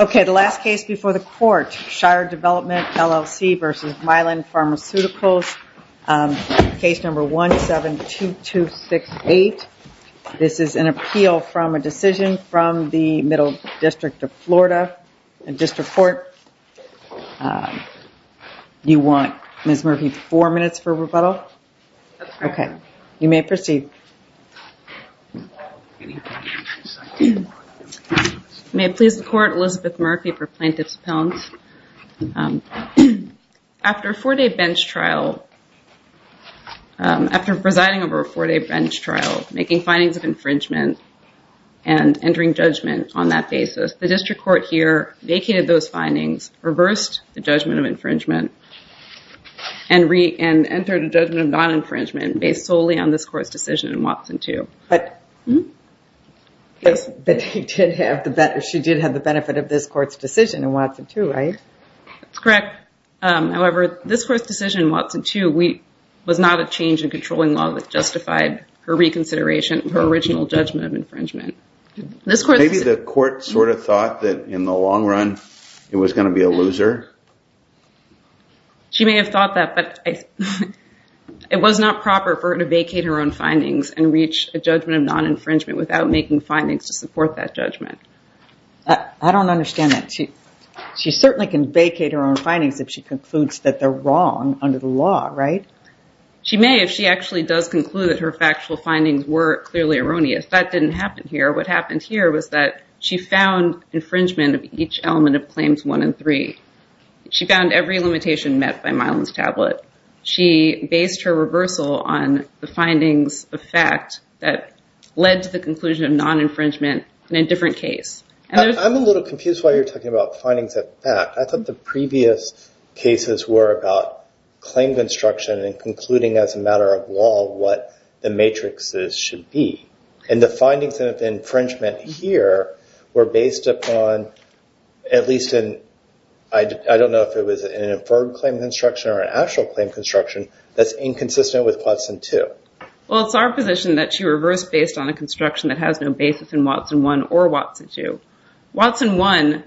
Okay, the last case before the court, Shire Development, LLC v. Mylan Pharmaceuticals, case number 172268. This is an appeal from a decision from the Middle District of Florida, District Court. Do you want Ms. Murphy four minutes for rebuttal? Okay, you may proceed. May it please the court, Elizabeth Murphy for plaintiff's appellant. After a four-day bench trial, after presiding over a four-day bench trial, making findings of infringement and entering judgment on that basis, the District Court here vacated those findings, reversed the judgment of infringement, and entered a judgment of non-infringement based solely on this court's decision in Watson 2. But she did have the benefit of this court's decision in Watson 2, right? That's correct. However, this court's decision in Watson 2 was not a change in controlling law that justified her reconsideration of her original judgment of infringement. Maybe the court sort of thought that in the long run it was going to be a loser? She may have thought that, but it was not proper for her to vacate her own findings and reach a judgment of non-infringement without making findings to support that judgment. I don't understand that. She certainly can vacate her own findings if she concludes that they're wrong under the law, right? She may if she actually does conclude that her factual findings were clearly erroneous. That didn't happen here. What happened here was that she found infringement of each element of Claims 1 and 3. She found every limitation met by Milan's tablet. She based her reversal on the findings of fact that led to the conclusion of non-infringement in a different case. I'm a little confused why you're talking about findings of fact. I thought the previous cases were about claim construction and concluding as a matter of law what the matrixes should be. And the findings of infringement here were based upon at least, I don't know if it was an inferred claim construction or an actual claim construction that's inconsistent with Watson 2. Well, it's our position that she reversed based on a construction that has no basis in Watson 1 or Watson 2. Watson 1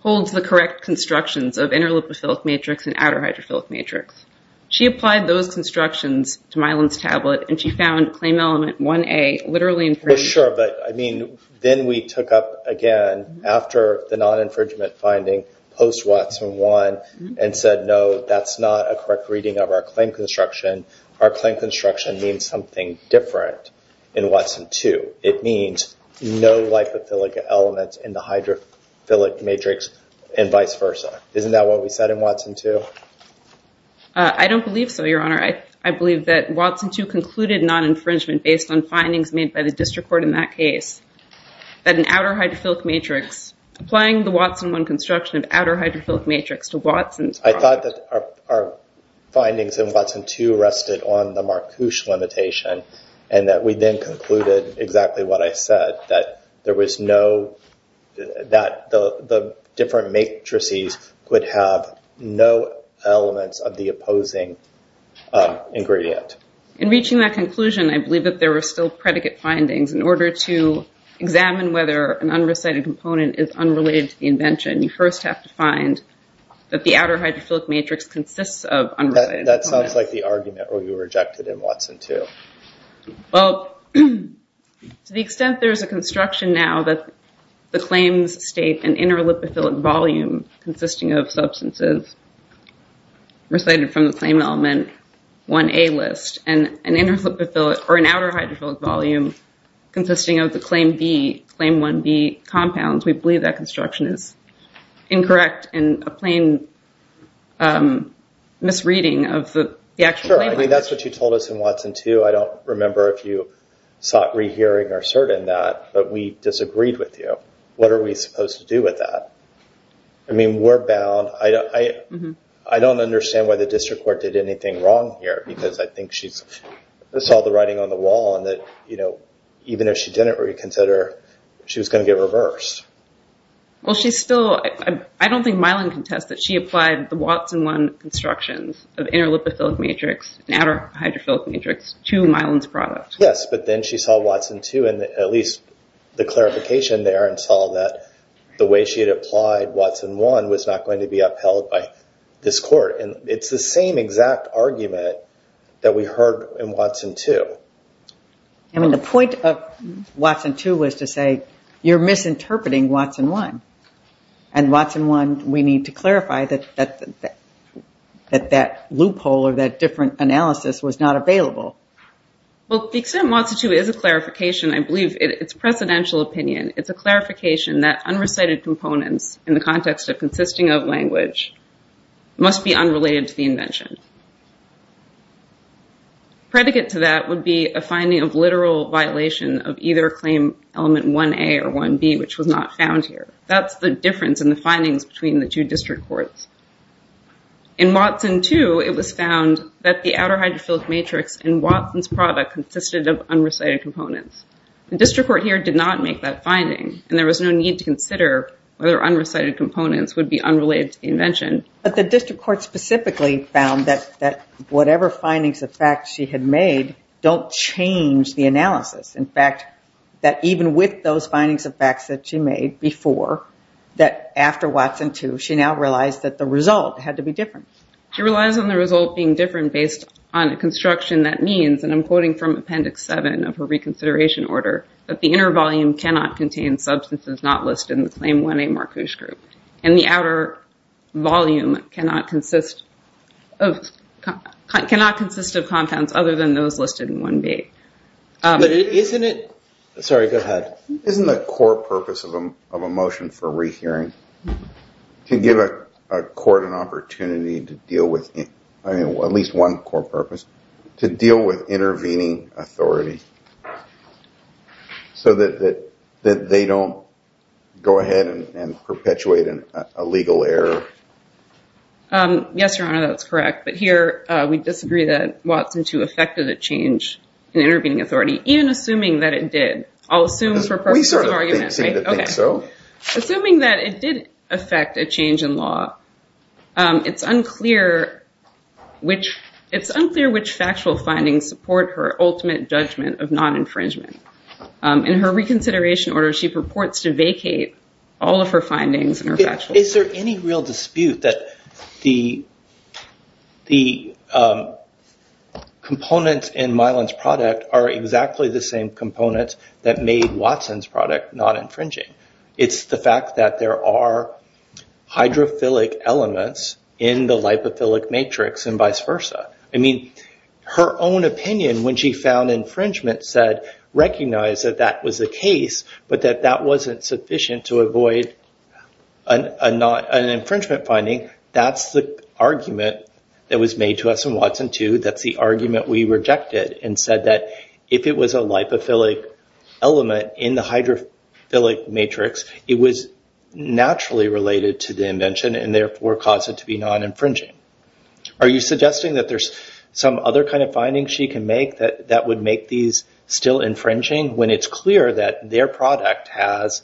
holds the correct constructions of interleuphophilic matrix and outer hydrophilic matrix. She applied those constructions to Milan's tablet and she found claim element 1A literally infringed. Sure, but then we took up again after the non-infringement finding post-Watson 1 and said, no, that's not a correct reading of our claim construction. Our claim construction means something different in Watson 2. It means no lipophilic elements in the hydrophilic matrix and vice versa. Isn't that what we said in Watson 2? I don't believe so, Your Honor. I believe that Watson 2 concluded non-infringement based on findings made by the district court in that case. That an outer hydrophilic matrix, applying the Watson 1 construction of outer hydrophilic matrix to Watson's product. I thought that our findings in Watson 2 rested on the Marcouche limitation and that we then concluded exactly what I said, that the different matrices could have no elements of the opposing ingredient. In reaching that conclusion, I believe that there were still predicate findings in order to examine whether an unrecited component is unrelated to the invention. You first have to find that the outer hydrophilic matrix consists of unrecited components. That sounds like the argument where you rejected in Watson 2. Well, to the extent there's a construction now that the claims state an inner lipophilic volume consisting of substances recited from the same element 1A list and an inner lipophilic or an outer hydrophilic volume consisting of the claim B, claim 1B compounds, we believe that construction is incorrect and a plain misreading of the actual claim. I mean, that's what you told us in Watson 2. I don't remember if you sought rehearing or certain that, but we disagreed with you. What are we supposed to do with that? I mean, we're bound. I don't understand why the district court did anything wrong here because I think she saw the writing on the wall and that even if she didn't reconsider, she was going to get reversed. Well, she's still... I don't think Watson 1 constructions of inner lipophilic matrix and outer hydrophilic matrix to Milan's product. Yes, but then she saw Watson 2 and at least the clarification there and saw that the way she had applied Watson 1 was not going to be upheld by this court. And it's the same exact argument that we heard in Watson 2. I mean, the point of Watson 2 was to say, you're misinterpreting Watson 1. And Watson 1, we need to clarify that that loophole or that different analysis was not available. Well, the extent Watson 2 is a clarification, I believe it's a precedential opinion. It's a clarification that unrecited components in the context of consisting of language must be unrelated to the invention. Predicate to that would be a finding of literal violation of either claim element 1A or 1B, which was not found here. That's the difference in the findings between the two district courts. In Watson 2, it was found that the outer hydrophilic matrix in Watson's product consisted of unrecited components. The district court here did not make that finding and there was no need to consider whether unrecited components would be unrelated to the invention. But the district court specifically found that whatever findings of fact she had made don't change the analysis. In fact, that even with those findings of facts that she made before, that after Watson 2, she now realized that the result had to be different. She relies on the result being different based on a construction that means, and I'm quoting from Appendix 7 of her reconsideration order, that the inner volume cannot contain substances not listed in the claim 1A Marcus group. And the outer volume cannot consist of compounds other than those listed in 1B. But isn't it... Sorry, go ahead. Isn't the core purpose of a motion for rehearing to give a court an opportunity to deal with, at least one core purpose, to deal with intervening authority so that they don't go ahead and perpetuate a legal error? Yes, Your Honor, that's correct. But here, we disagree that Watson 2 affected a change in intervening authority, even assuming that it did. I'll assume for purposes of argument. We sort of think so. Assuming that it did affect a change in law, it's unclear which factual findings support her ultimate judgment of non-infringement. In her reconsideration order, she purports to vacate all of her findings and her factual... Is there any real dispute that the components in Mylan's product are exactly the same components that made Watson's product non-infringing? It's the fact that there are hydrophilic elements in the lipophilic matrix and vice versa. I mean, her own opinion when she found infringement said, recognize that that was the case, but that that wasn't sufficient to avoid an infringement finding. That's the argument that was made to us in Watson 2. That's the argument we rejected and said that if it was a lipophilic element in the hydrophilic matrix, it was to be non-infringing. Are you suggesting that there's some other kind of findings she can make that would make these still infringing when it's clear that their product has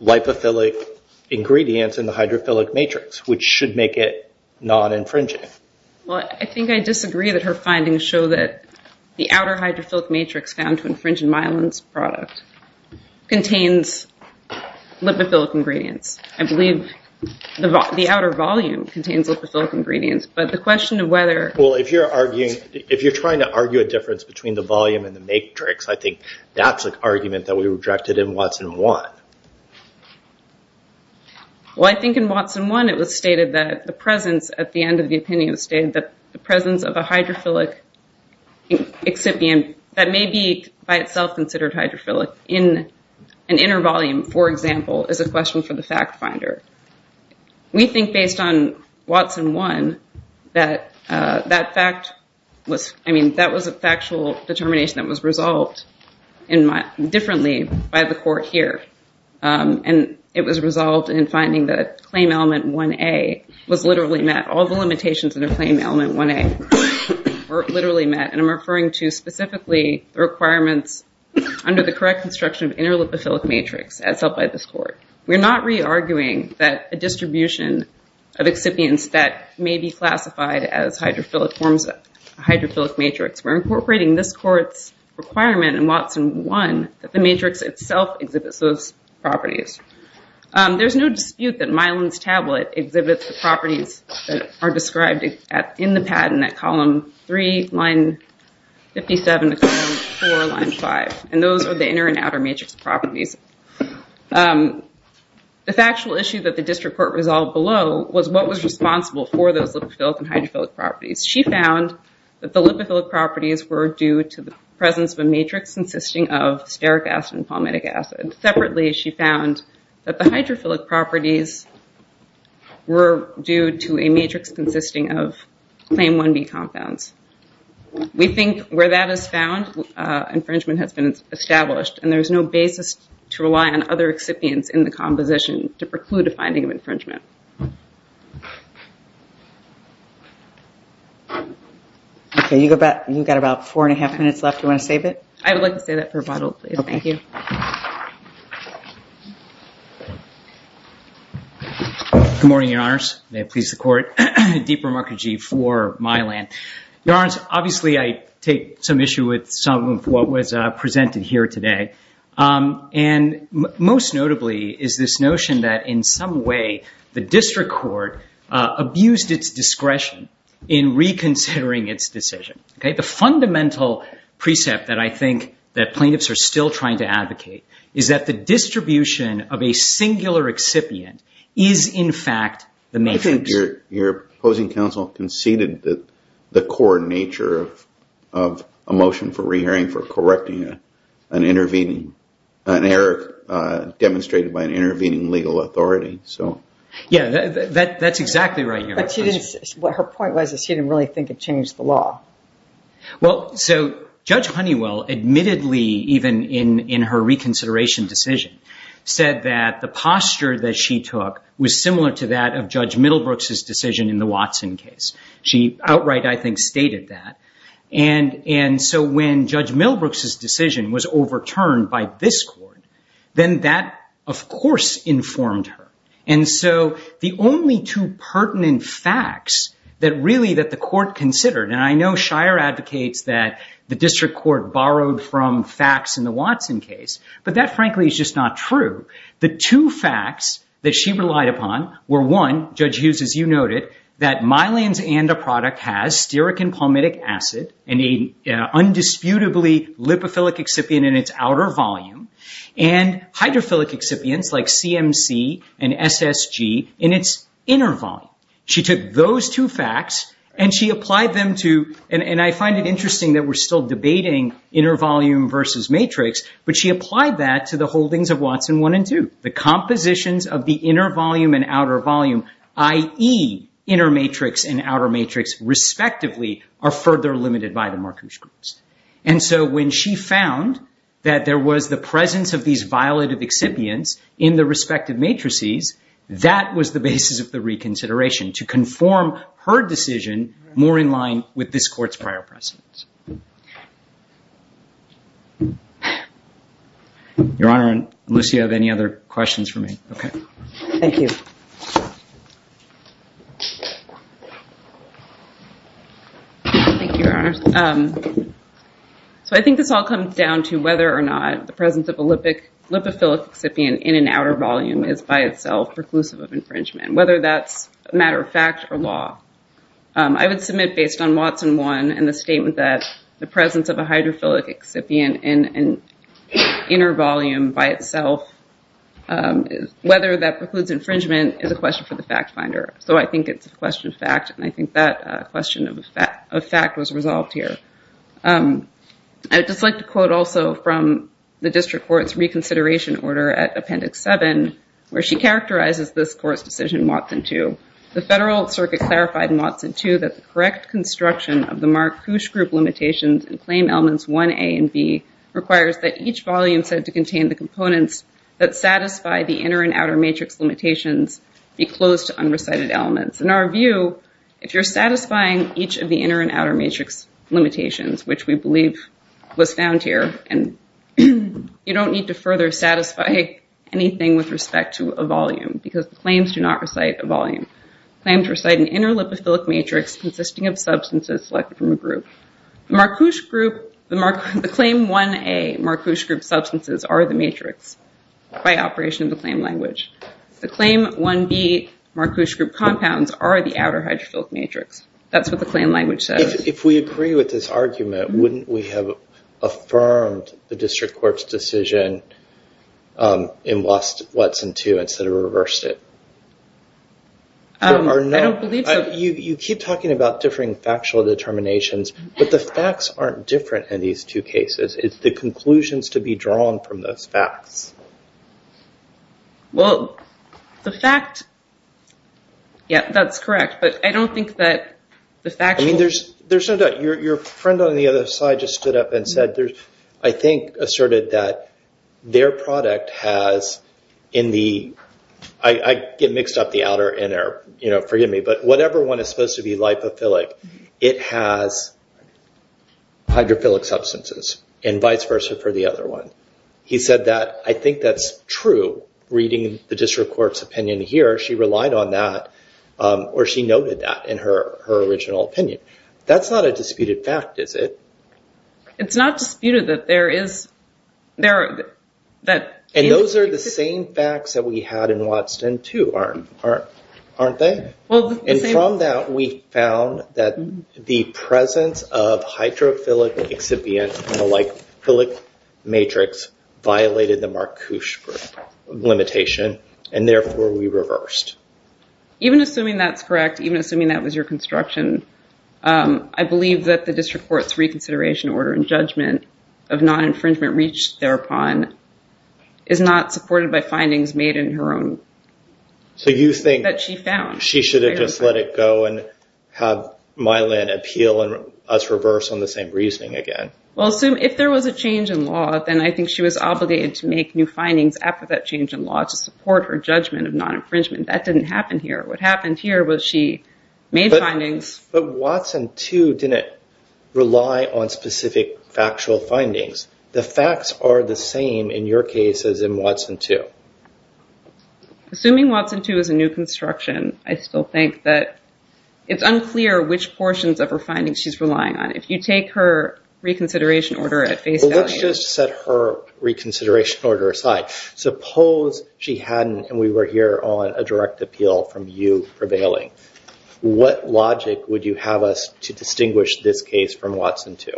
lipophilic ingredients in the hydrophilic matrix, which should make it non-infringing? Well, I think I disagree that her findings show that the outer hydrophilic matrix found to infringe in Mylan's product contains lipophilic ingredients. I believe the outer volume contains lipophilic ingredients, but the question of whether- Well, if you're trying to argue a difference between the volume and the matrix, I think that's the argument that we rejected in Watson 1. Well, I think in Watson 1, it was stated that the presence at the end of the opinion that the presence of a hydrophilic excipient that may be by itself considered hydrophilic in an inner volume, for example, is a question for the fact finder. We think based on Watson 1 that that fact was- I mean, that was a factual determination that was resolved differently by the court here. And it was resolved in finding that claim element 1A was literally met. All the limitations in a claim element 1A were literally met. And I'm referring to specifically the requirements under the correct construction of inner lipophilic matrix as held by this court. We're not re-arguing that a distribution of excipients that may be classified as hydrophilic forms a hydrophilic matrix. We're incorporating this court's requirement in Watson 1 that the matrix itself exhibits those properties. There's no dispute that Milan's tablet exhibits the properties that are described in the patent at column 3, line 57 to column 4, line 5. And those are the inner and outer matrix properties. The factual issue that the district court resolved below was what was responsible for those lipophilic and hydrophilic properties. She found that the lipophilic properties were due to the presence of a matrix consisting of stearic acid and palmitic acid. Separately, she found that the hydrophilic properties were due to a matrix consisting of claim 1B compounds. We think where that is found, infringement has been established, and there's no basis to rely on other excipients in the composition to preclude a finding of infringement. You've got about four and a half minutes left. You want to save it? I would like to save that for a bottle, please. Thank you. Good morning, Your Honors. May it please the Court. Deep Ramakrishni for Milan. Your Honors, obviously, I take some issue with some of what was presented here today. And most notably is this notion that in some way the district court abused its discretion in reconsidering its decision. The fundamental precept that I think that plaintiffs are still trying to advocate is that the distribution of a singular excipient is, in fact, the matrix. Your opposing counsel conceded that the core nature of a motion for re-hearing for correcting an error demonstrated by an intervening legal authority. Yes, that's exactly right. Her point was that she didn't really think it changed the law. So Judge Honeywell admittedly, even in her reconsideration decision, said that the posture that she took was similar to that of Judge Middlebrooks' decision in the Watson case. She outright, I think, stated that. And so when Judge Middlebrooks' decision was overturned by facts that really that the court considered, and I know Shire advocates that the district court borrowed from facts in the Watson case, but that frankly is just not true. The two facts that she relied upon were one, Judge Hughes, as you noted, that Milan's ANDA product has stearic and palmitic acid and a undisputably lipophilic excipient in its outer volume, and hydrophilic excipients like CMC and SSG in its inner volume. She took those two facts and she applied them to, and I find it interesting that we're still debating inner volume versus matrix, but she applied that to the holdings of Watson 1 and 2. The compositions of the inner volume and outer volume, i.e. inner matrix and outer matrix respectively, are further limited by the Markowitz groups. And so when she found that there was the presence of these violative excipients in the respective matrices, that was the basis of the reconsideration to conform her decision more in line with this court's prior precedence. Your Honor, does Lucia have any other questions for me? Thank you. Thank you, Your Honor. So I think this all comes down to whether or not the presence of a lipophilic excipient in an outer volume is by itself preclusive of infringement, whether that's a matter of fact or law. I would submit based on Watson 1 and the statement that the presence of a hydrophilic excipient in an inner volume by itself, whether that precludes infringement is a question for question of fact was resolved here. I'd just like to quote also from the district court's reconsideration order at Appendix 7, where she characterizes this court's decision in Watson 2. The federal circuit clarified in Watson 2 that the correct construction of the Markowitz group limitations in claim elements 1a and b requires that each volume said to contain the components that satisfy the inner and outer matrix limitations be closed to unrecited elements. In our view, if you're satisfying each of the inner and outer matrix limitations, which we believe was found here and you don't need to further satisfy anything with respect to a volume because the claims do not recite a volume. Claims recite an inner lipophilic matrix consisting of substances selected from a group. The claim 1a Markowitz group substances are the matrix by operation of the claim language. The claim 1b Markowitz group compounds are the outer hydrophilic matrix. That's what the claim language says. If we agree with this argument, wouldn't we have affirmed the district court's decision in Watson 2 instead of reversed it? You keep talking about differing factual determinations, but the facts aren't different in these two cases. It's the conclusions to be drawn from those facts. Well, the fact... Yeah, that's correct, but I don't think that the fact... I mean, there's no doubt. Your friend on the other side just stood up and said, I think, asserted that their product has in the... I get mixed up the outer, inner, forgive me, but whatever one is supposed to be lipophilic, it has hydrophilic substances and vice versa for the other one. He said that. I think that's true reading the district court's opinion here. She relied on that or she noted that in her original opinion. That's not a disputed fact, is it? It's not disputed that there is... And those are the same facts that we had in Watson 2, aren't they? And from that, we found that the presence of hydrophilic excipient and the like philic matrix violated the Marcouche limitation, and therefore we reversed. Even assuming that's correct, even assuming that was your construction, I believe that the district court's reconsideration order and judgment of non-infringement reached thereupon is not supported by findings made in her own... So you think- That she found. She should have just let it go and have Mylan appeal and us reverse on the same reasoning again. If there was a change in law, then I think she was obligated to make new findings after that change in law to support her judgment of non-infringement. That didn't happen here. What happened here was she made findings... But Watson 2 didn't rely on specific factual findings. The facts are the same in your case as in Watson 2. Assuming Watson 2 is a new construction, I still think that it's unclear which portions of her findings she's relying on. If you take her reconsideration order at face value... Let's just set her reconsideration order aside. Suppose she hadn't and we were here on a direct appeal from you prevailing. What logic would you have us to distinguish this case from Watson 2?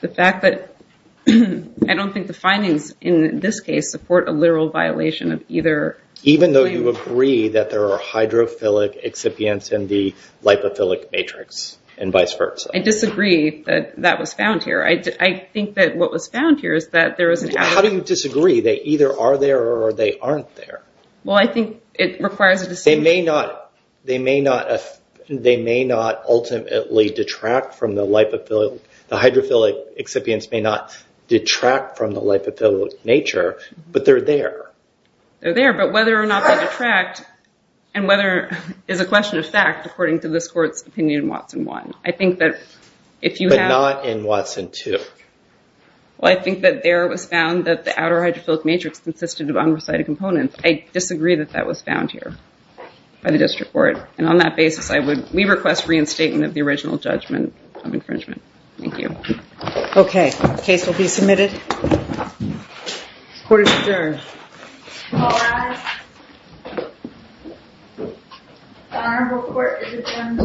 The fact that I don't think the findings in this case support a literal violation of either... Even though you agree that there are hydrophilic excipients in the lipophilic matrix and vice versa. I disagree that that was found here. I think that what was found here is that there was an... How do you disagree? They either are there or they aren't there. Well, I think it requires a distinction. They may not ultimately detract from the lipophilic... The hydrophilic excipients may not detract from the lipophilic nature, but they're there. They're there, but whether or not they detract and whether... Is a question of fact according to this court's opinion in Watson 1. I think that if you have... But not in Watson 2. Well, I think that there was found that the outer hydrophilic matrix consisted of unrecited components. I disagree that that was found here by the district court. And on that basis, we request reinstatement of the original judgment of infringement. Thank you. Okay. Case will be submitted. Court is adjourned. All rise. The Honorable Court is adjourned.